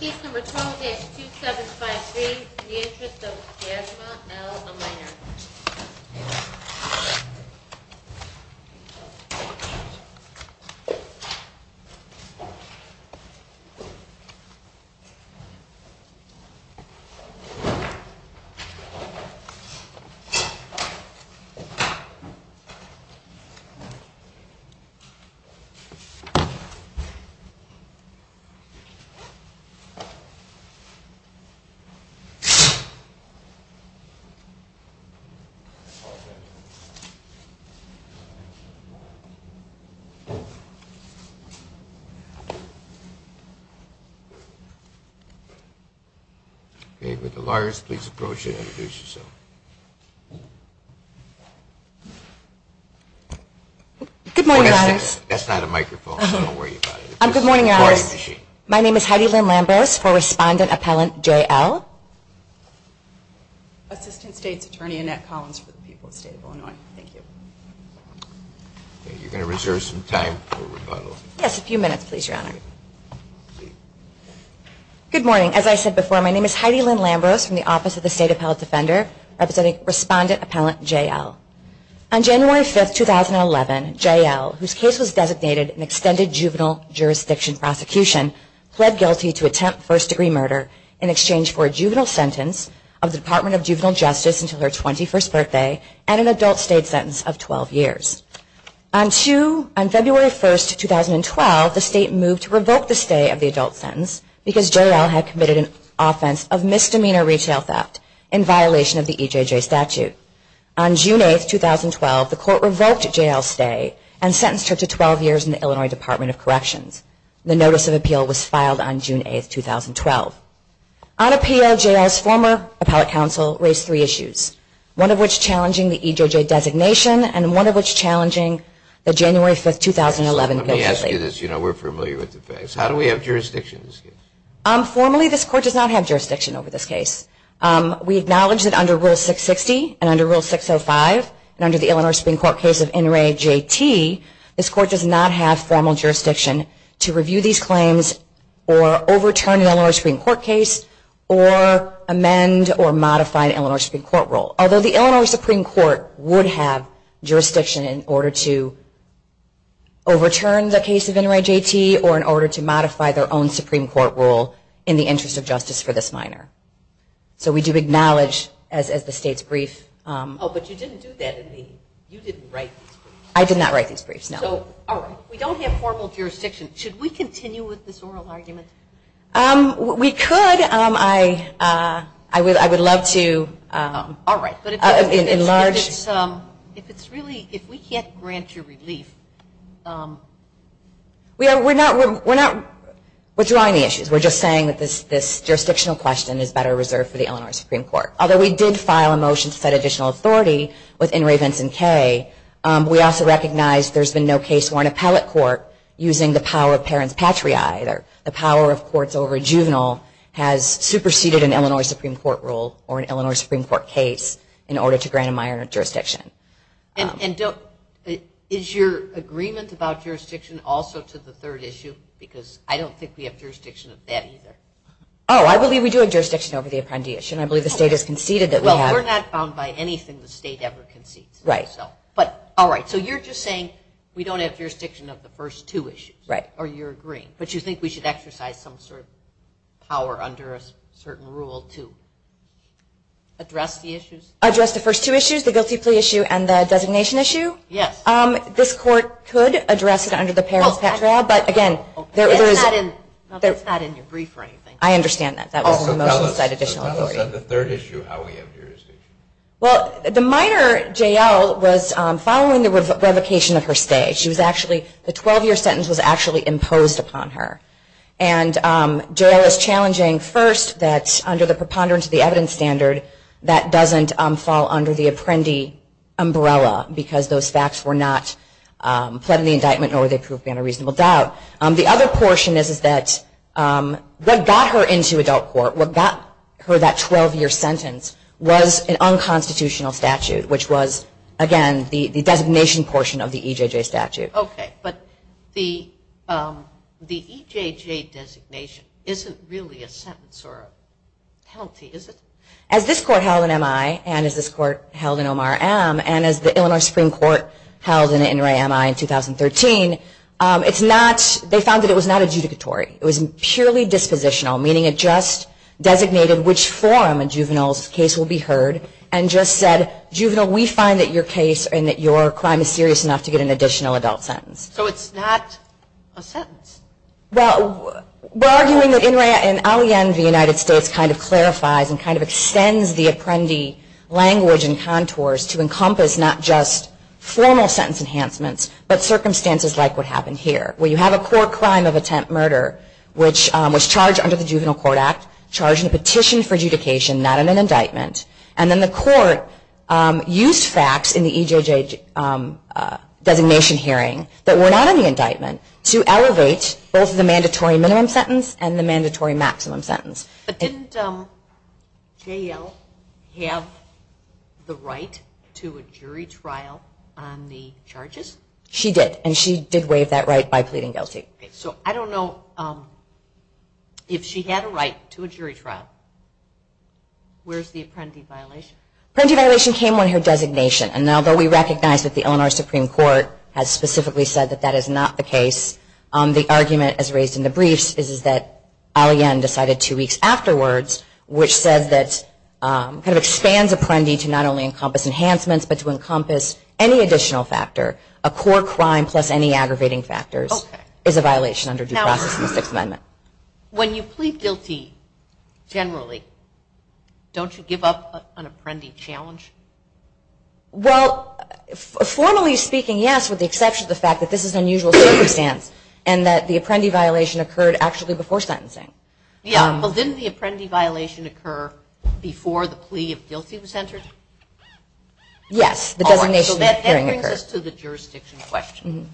Case No. 12-2753, The Interest of Jasmine L. O'Meara. The Interest of Jasmine L. O'Meara. My name is Heidi Lynn Lambros for Respondent Appellant J.L. Assistant State's Attorney Annette Collins for the people of the State of Illinois. Thank you. You're going to reserve some time for rebuttal. Yes, a few minutes please, Your Honor. Good morning. As I said before, my name is Heidi Lynn Lambros from the Office of the State Appellate Defender representing Respondent Appellant J.L. On January 5, 2011, J.L., whose case was designated an extended juvenile jurisdiction prosecution, pled guilty to attempt first-degree murder in exchange for a juvenile sentence of the Department of Juvenile Justice until her 21st birthday and an adult state sentence of 12 years. On February 1, 2012, the State moved to revoke the stay of the adult sentence because J.L. had committed an offense of misdemeanor retail theft in violation of the EJJ statute. On June 8, 2012, the Court revoked J.L.'s stay and sentenced her to 12 years in the Illinois Department of Corrections. The notice of appeal was filed on June 8, 2012. On appeal, J.L.'s former appellate counsel raised three issues, one of which challenging the EJJ designation and one of which challenging the January 5, 2011 guilty plea. Let me ask you this. You know we're familiar with the facts. How do we have jurisdiction in this case? Formally, this Court does not have jurisdiction over this case. We acknowledge that under Rule 660 and under Rule 605 and under the Illinois Supreme Court case of NRAJT, this Court does not have formal jurisdiction to review these claims or overturn an Illinois Supreme Court case or amend or modify an Illinois Supreme Court rule. Although the Illinois Supreme Court would have jurisdiction in order to overturn the case of NRAJT or in order to modify their own Supreme Court rule in the interest of justice for this minor. So we do acknowledge, as the State's brief... I did not write these briefs, no. We don't have formal jurisdiction. Should we continue with this oral argument? We could. I would love to. Alright. But if it's really, if we can't grant you relief... We're not withdrawing the issues. We're just saying that this jurisdictional question is better reserved for the Illinois Supreme Court. Although we did file a motion to set additional authority with NRA Vinson K. We also recognize there's been no case worn appellate court using the power of parents patria either. The power of courts over a juvenile has superseded an Illinois Supreme Court rule or an Illinois Supreme Court case in order to grant a minor jurisdiction. Is your agreement about jurisdiction also to the third issue? Because I don't think we have jurisdiction of that either. Oh, I believe we do have jurisdiction over the apprendiation. I believe the State has conceded that we have... Right. Alright. So you're just saying we don't have jurisdiction of the first two issues. Right. Or you're agreeing. But you think we should exercise some sort of power under a certain rule to address the issues? Address the first two issues? The guilty plea issue and the designation issue? Yes. This court could address it under the parents patria, but again... It's not in your brief or anything. I understand that. That was the motion to set additional authority. So tell us on the third issue how we have jurisdiction. Well, the minor, J.L., was following the revocation of her stay. The 12-year sentence was actually imposed upon her. And J.L. is challenging first that under the preponderance of the evidence standard that doesn't fall under the apprendi umbrella because those facts were not pled in the indictment nor were they proved in a reasonable doubt. The other portion is that what got her into adult court, what got her that 12-year sentence, was an unconstitutional statute, which was, again, the designation portion of the EJJ statute. Okay. But the EJJ designation isn't really a sentence or a penalty, is it? As this court held in MI and as this court held in OMRM and as the Illinois Supreme Court held in NRAMI in 2013, they found that it was not adjudicatory. It was purely dispositional, meaning it just designated which form a juvenile's case will be heard and just said, juvenile, we find that your case and that your crime is serious enough to get an additional adult sentence. So it's not a sentence? Well, we're arguing that NRAMI and the United States kind of clarifies and kind of extends the apprendi language and contours to encompass not just formal sentence enhancements but circumstances like what happened here, where you have a court crime of attempt murder which was charged under the Juvenile Court Act, charged in a petition for adjudication not in an indictment, and then the court used facts in the EJJ designation hearing that were not in the indictment to elevate both the mandatory minimum sentence and the mandatory maximum sentence. But didn't JL have the right to a jury trial on the charges? She did, and she did waive that right by pleading guilty. So I don't know if she had a right to a jury trial. Where's the apprendi violation? Apprendi violation came when her designation, and although we recognize that the Illinois Supreme Court has specifically said that that is not the case, the argument as raised in the briefs is that Ali-Ann decided two weeks afterwards which says that, kind of expands apprendi to not only encompass enhancements but to encompass any additional factor, a court crime plus any aggravating factors is a violation under due process in the Sixth Amendment. When you plead guilty, generally, don't you give up an apprendi challenge? Well, formally speaking, yes, with the exception of the fact that this is an unusual circumstance and that the apprendi violation occurred actually before sentencing. Yeah, but didn't the apprendi violation occur before the plea of guilty was entered? Yes, the designation hearing occurred. That brings us to the jurisdiction question.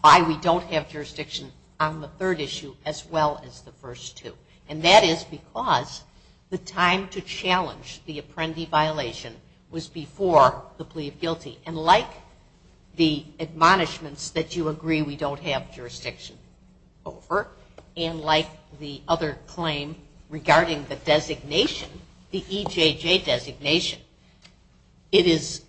Why we don't have jurisdiction on the third issue as well as the first two. And that is because the time to challenge the apprendi violation was before the plea of guilty, and like the admonishments that you agree we don't have jurisdiction over and like the other claim regarding the designation, the EJJ designation, it is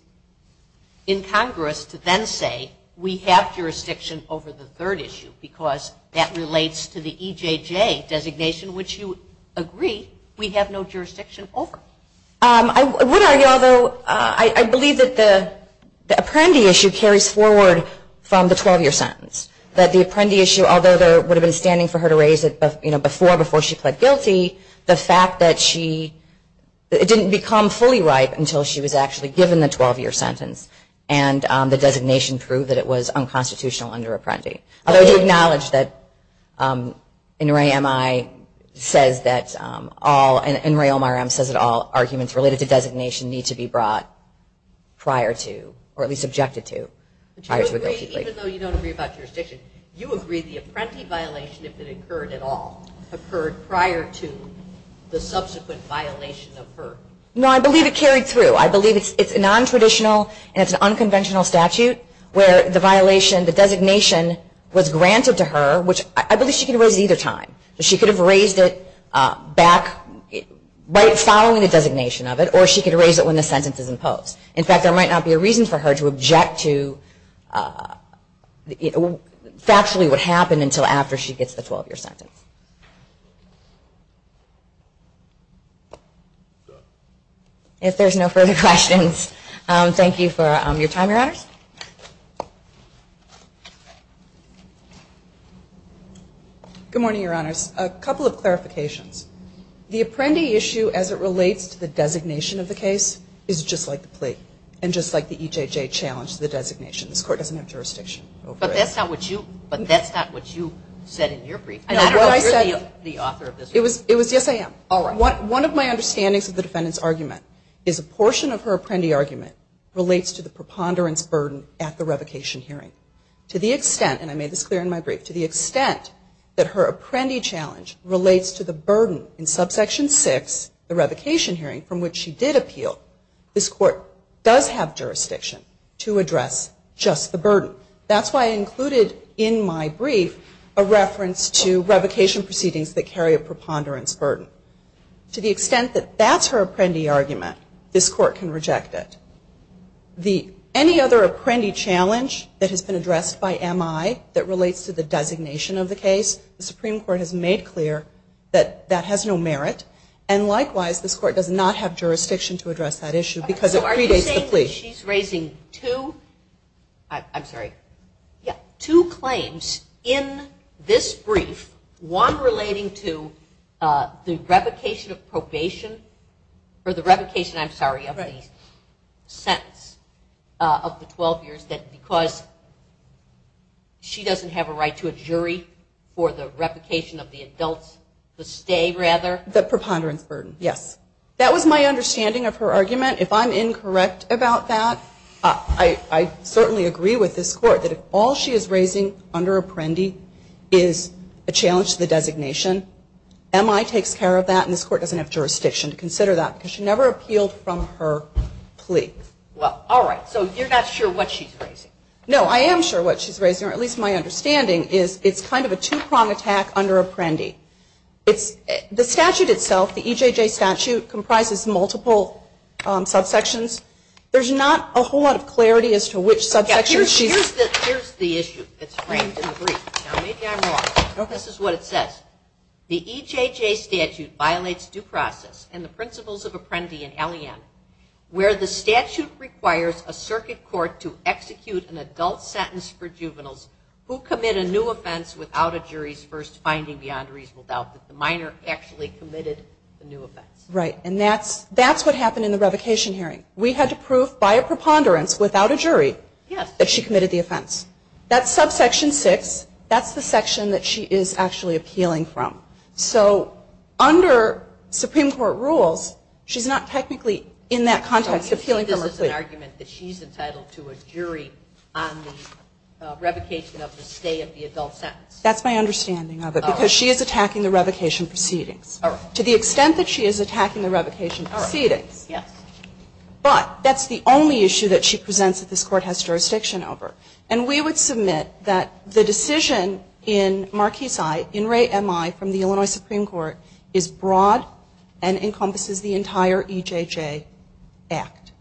incongruous to then say we have jurisdiction over the third issue because that relates to the EJJ designation, which you agree we have no jurisdiction over. I would argue, although, I believe that the apprendi issue carries forward from the 12-year sentence, that the apprendi issue, although there would have been standing for her to raise it before she pled guilty, the fact that she didn't become fully ripe until she was actually given the 12-year sentence and the designation proved that it was unconstitutional under apprendi. I would acknowledge that NRA MI says that all, NRA OMRM says that all arguments related to designation need to be brought prior to, or at least objected to, prior to a guilty plea. Even though you don't agree about jurisdiction, you agree the apprendi violation, if it occurred at all, occurred prior to the subsequent violation of her. No, I believe it carried through. I believe it's a non-traditional and it's an unconventional statute where the violation the designation was granted to her, which I believe she can raise at either time. She could have raised it back right following the designation of it or she could raise it when the sentence is imposed. In fact, there might not be a reason for her to object to factually what happened until after she gets the 12-year sentence. If there's no further questions, thank you for your time, Your Honors. Good morning, Your Honors. A couple of clarifications. The apprendi issue as it relates to the designation of the case is just like the plea and just like the EJJ challenged the designation. This Court doesn't have jurisdiction over it. But that's not what you said in your briefing. It was, yes I am. One of my understandings of the defendant's argument is a portion of her apprendi argument relates to the preponderance burden at the revocation hearing. To the extent, and I made this clear in my brief, to the extent that her apprendi challenge relates to the burden in subsection 6, the revocation hearing, from which she did appeal, this Court does have jurisdiction to address just the burden. That's why I included in my revocation proceedings that carry a preponderance burden. To the extent that that's her apprendi argument, this Court can reject it. Any other apprendi challenge that has been addressed by MI that relates to the designation of the case, the Supreme Court has made clear that that has no merit. And likewise, this Court does not have jurisdiction to address that issue because it predates the plea. She's raising two claims in this brief, one relating to the revocation of probation, or the revocation, I'm sorry, of the sentence of the 12 years because she doesn't have a right to a jury for the revocation of the adults, the stay rather. The preponderance burden, yes. That was my understanding of her argument. If I'm incorrect about that, I certainly agree with this Court that all she is raising under apprendi is a challenge to the designation. MI takes care of that and this Court doesn't have jurisdiction to consider that because she never appealed from her plea. Alright, so you're not sure what she's raising? No, I am sure what she's raising, or at least my understanding is it's kind of a two-prong attack under apprendi. The statute itself, the EJJ statute, comprises multiple subsections. There's not a whole lot of clarity as to which subsection she's... Here's the issue that's framed in the brief. Now maybe I'm wrong, but this is what it says. The EJJ statute violates due process and the principles of apprendi and LEM where the statute requires a circuit court to execute an adult sentence for juveniles who commit a new offense without a jury's first finding beyond reasonable doubt that the minor actually committed the new offense. Right, and that's what happened in the revocation hearing. We had to have a jury that she committed the offense. That's subsection 6. That's the section that she is actually appealing from. So under Supreme Court rules, she's not technically in that context appealing from her plea. So you see this as an argument that she's entitled to a jury on the revocation of the stay of the adult sentence? That's my understanding of it because she is attacking the revocation proceedings. Alright. To the extent that she is attacking the revocation proceedings. Yes. But that's the only issue that she presents that this Court has jurisdiction over. And we would submit that the decision in Marquis I, in Ray MI from the Illinois Supreme Court is broad and encompasses the entire EJJ Act.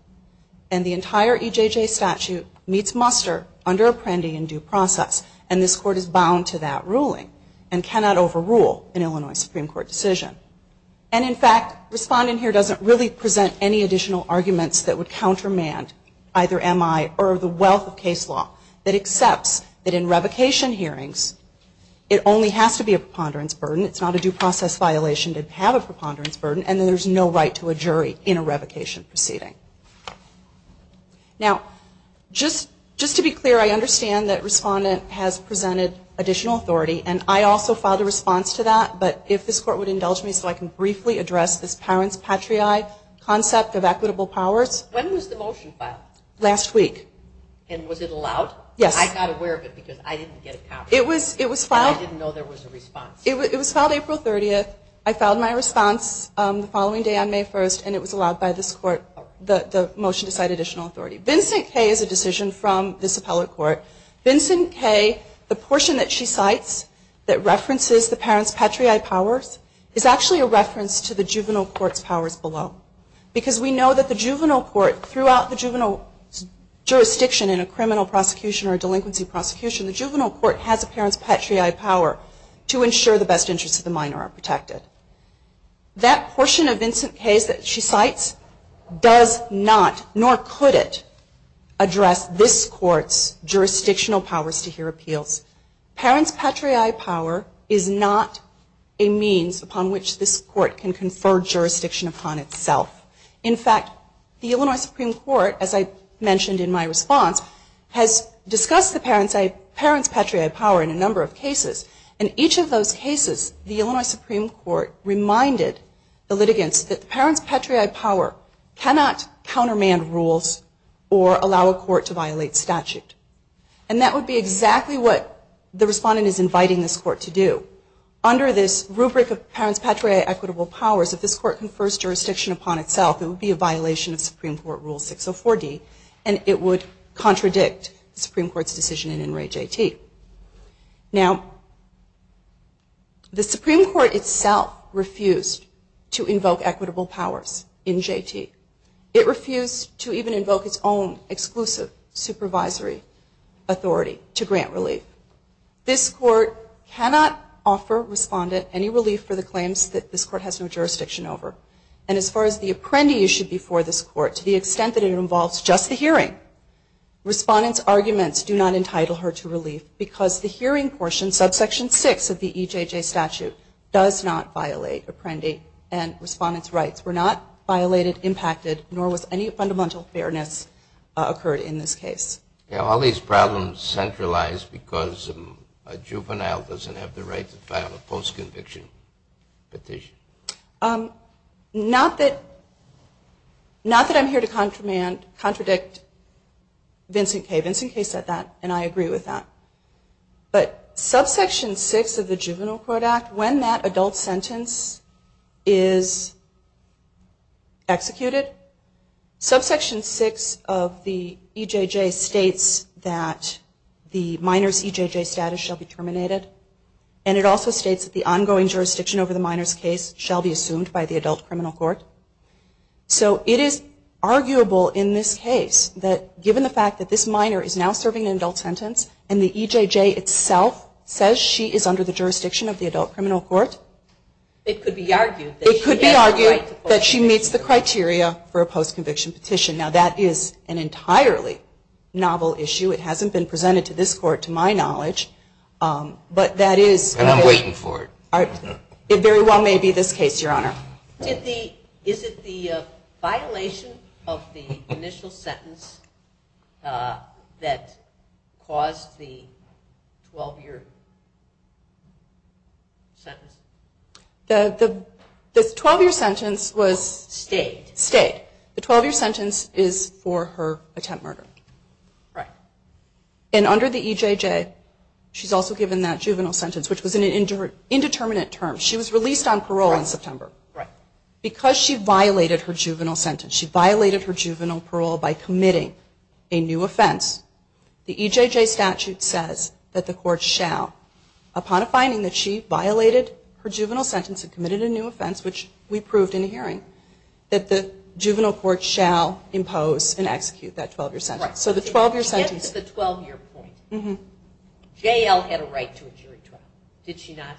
And the entire EJJ statute meets muster under apprendi and due process and this Court is bound to that ruling and cannot overrule an Illinois Supreme Court decision. And in fact, respondent here doesn't really have any additional arguments that would countermand either MI or the wealth of case law that accepts that in revocation hearings it only has to be a preponderance burden. It's not a due process violation to have a preponderance burden and there's no right to a jury in a revocation proceeding. Now, just to be clear, I understand that respondent has presented additional authority and I also filed a response to that. But if this Court would indulge me so I can briefly address this parent's patriae concept of equitable powers. When was the motion filed? Last week. And was it allowed? Yes. I got aware of it because I didn't get a copy. It was filed. And I didn't know there was a response. It was filed April 30th. I filed my response the following day on May 1st and it was allowed by this Court, the motion to cite additional authority. Vincent Kay is a decision from this appellate court. Vincent Kay, the portion that she cites that references the parent's patriae powers is actually a reference to the juvenile court's powers below. Because we know that the juvenile court, throughout the juvenile jurisdiction in a criminal prosecution or a delinquency prosecution, the juvenile court has a parent's patriae power to ensure the best interests of the minor are protected. That portion of Vincent Kay's that she cites does not, nor could it, address this Court's jurisdictional powers to hear appeals. Parent's patriae power is not a means upon which this Court can confer jurisdiction upon itself. In fact, the Illinois Supreme Court as I mentioned in my response, has discussed the parent's patriae power in a number of cases. In each of those cases the Illinois Supreme Court reminded the litigants that the parent's patriae power cannot countermand rules or allow a court to violate statute. And that would be exactly what the respondent is inviting this Court to do. Under this rubric of parent's patriae equitable powers, if this Court confers jurisdiction upon itself, it would be a violation of Supreme Court Rule 604D and it would contradict the Supreme Court's decision in In Re JT. Now the Supreme Court itself refused to invoke equitable powers in JT. It refused to even invoke its own exclusive supervisory authority to grant relief. This Court cannot offer respondent any relief for the claims that this Court has no jurisdiction over. And as far as the Apprendi issue before this Court, to the extent that it involves just the hearing, respondent's arguments do not entitle her to relief because the hearing portion, subsection 6 of the EJJ statute, does not violate Apprendi and respondent's rights were not violated impacted, nor was any fundamental fairness occurred in this case. Are all these problems centralized because a juvenile doesn't have the right to file a post-conviction petition? Not that I'm here to contradict Vincent Kaye. Vincent Kaye said that and I agree with that. But subsection 6 of the Juvenile Court Act, when that adult sentence is executed, subsection 6 of the EJJ states that the minor's EJJ status shall be terminated. And it also states that the ongoing jurisdiction over the minor's case shall be assumed by the adult criminal court. So it is arguable in this case that given the fact that this minor is now serving an adult sentence and the EJJ itself says she is under the jurisdiction of the adult criminal court, it could be argued that she meets the criteria for a juvenile. This is an entirely novel issue. It hasn't been presented to this court to my knowledge. But that is... And I'm waiting for it. It very well may be this case, Your Honor. Is it the violation of the initial sentence that caused the 12-year sentence? The 12-year sentence was stayed. Stayed. The 12-year sentence is for her attempt murder. And under the EJJ, she's also given that juvenile sentence, which was an indeterminate term. She was released on parole in September. Because she violated her juvenile sentence, she violated her juvenile parole by committing a new offense, the EJJ statute says that the court shall, upon finding that she violated her juvenile sentence and committed a new offense, which we proved in a hearing, that the juvenile court shall impose and execute that 12-year sentence. So the 12-year sentence... JL had a right to a jury trial. Did she not?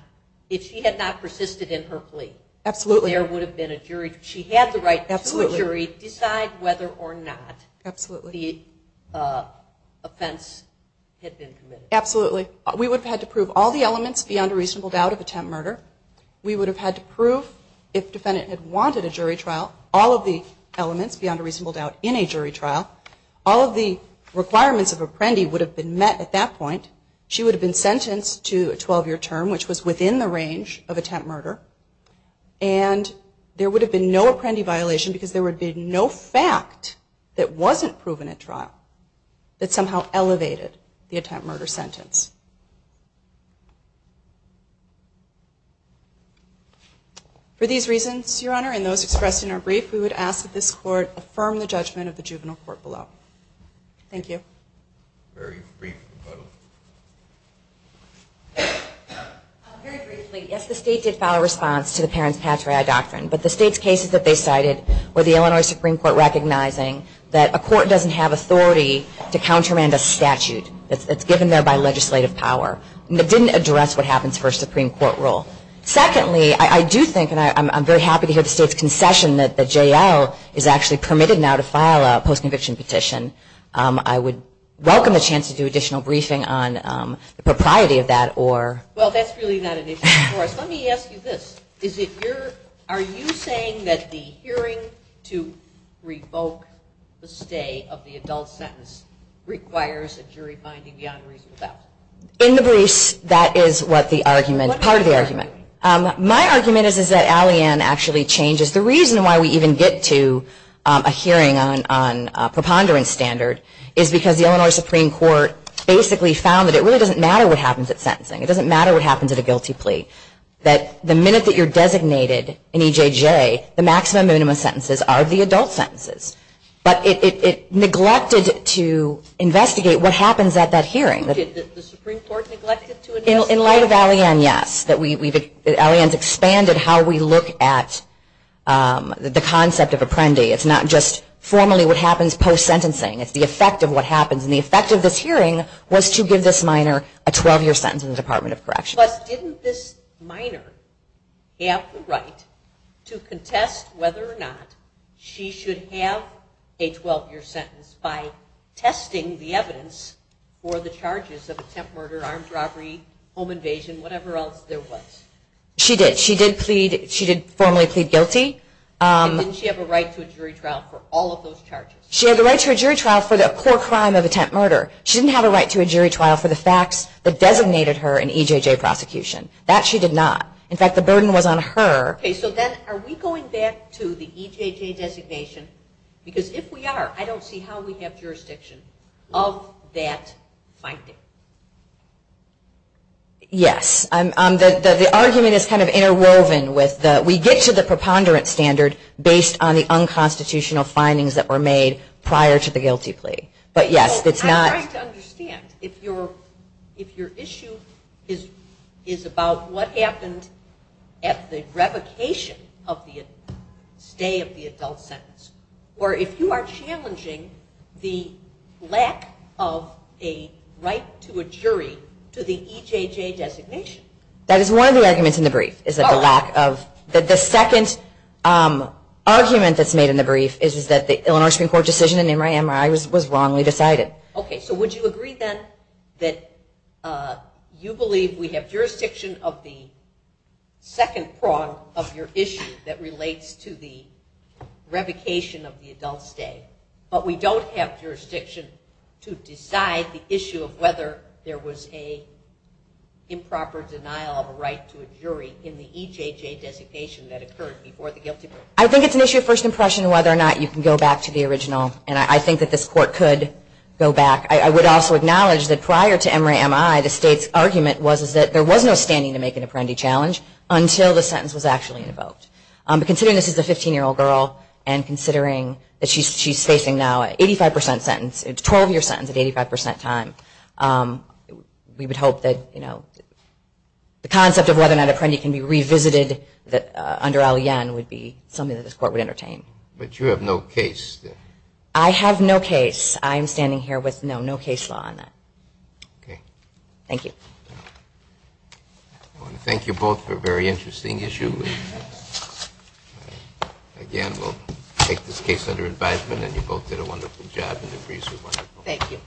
If she had not persisted in her plea, there would have been a jury... She had the right to a jury. Decide whether or not the offense had been committed. Absolutely. We would have had to prove all the elements beyond a reasonable doubt of attempt murder. We would have had to prove, if the defendant had wanted a jury trial, all of the elements beyond a reasonable doubt in a jury trial. All of the requirements of Apprendi would have been met at that point. She would have been sentenced to a 12-year term, which was within the range of attempt murder. And there would have been no Apprendi violation because there would have been no fact that wasn't proven at trial that somehow elevated the attempt murder sentence. For these reasons, Your Honor, and those expressed in our brief, we would ask that this court affirm the judgment of the juvenile court below. Thank you. Very briefly. Very briefly. Yes, the state did file a response to the parent's patriotic doctrine, but the state's cases that they cited were the Illinois Supreme Court recognizing that a court doesn't have authority to countermand a statute that's given there by legislation. It didn't address what happens for a Supreme Court rule. Secondly, I do think, and I'm very happy to hear the state's concession that J.L. is actually permitted now to file a post-conviction petition. I would welcome the chance to do additional briefing on the propriety of that. Well, that's really not an issue for us. Let me ask you this. Are you saying that the hearing to revoke the stay of the adult sentence requires a jury finding beyond reasonable doubt? In the briefs, that is part of the argument. My argument is that Alleyne actually changes. The reason why we even get to a hearing on preponderance standard is because the Illinois Supreme Court basically found that it really doesn't matter what happens at sentencing. It doesn't matter what happens at a guilty plea. That the minute that you're designated in EJJ, the maximum and minimum sentences are the adult sentences. But it neglected to investigate what happens at that hearing. Did the Supreme Court neglect to investigate? In light of Alleyne, yes. Alleyne's expanded how we look at the concept of apprendi. It's not just formally what happens post-sentencing. It's the effect of what happens. And the effect of this hearing was to give this minor a 12-year sentence in the Department of Corrections. Plus, didn't this minor have the right to contest whether or not she should have a 12-year sentence by testing the evidence for the charges of attempt murder, armed robbery, home invasion, whatever else there was? She did. She did plead. She did formally plead guilty. And didn't she have a right to a jury trial for all of those charges? She had the right to a jury trial for the poor crime of attempt murder. She didn't have a right to a jury trial for the facts that designated her in EJJ prosecution. That she did not. In fact, the burden was on her. Okay, so then are we going back to the EJJ designation? Because if we are, I don't see how we have jurisdiction of that finding. Yes. The argument is kind of interwoven with the, we get to the preponderance standard based on the unconstitutional findings that were made prior to the guilty plea. But yes, it's not. I'm trying to understand. If your issue is about what happened at the revocation of the stay of the adult sentence, or if you are challenging the lack of a right to a jury to the EJJ designation. That is one of the arguments in the brief. The second argument that's made in the brief is that the Illinois Supreme Court decision in MRI was wrongly decided. Okay, so would you agree then that you believe we have jurisdiction of the second prong of your issue that relates to the revocation of the adult stay. But we don't have jurisdiction to decide the issue of whether there was a improper denial of a right to a jury in the EJJ designation that occurred before the guilty plea. I think it's an issue of first impression whether or not you can go back to the original. And I think that this court could go back. I would also acknowledge that prior to MRI the state's argument was that there was no standing to make an Apprendi challenge until the sentence was actually invoked. But considering this is a 15-year-old girl and considering that she's facing now an 85% sentence, a 12-year sentence at 85% time, we would hope that the concept of whether or not Apprendi can be revisited under Allien would be something that this court would entertain. But you have no case. I have no case. I am standing here with no case law on that. Thank you. I want to thank you both for a very interesting issue. Again, we'll take this case under advisement and you both did a wonderful job. Thank you.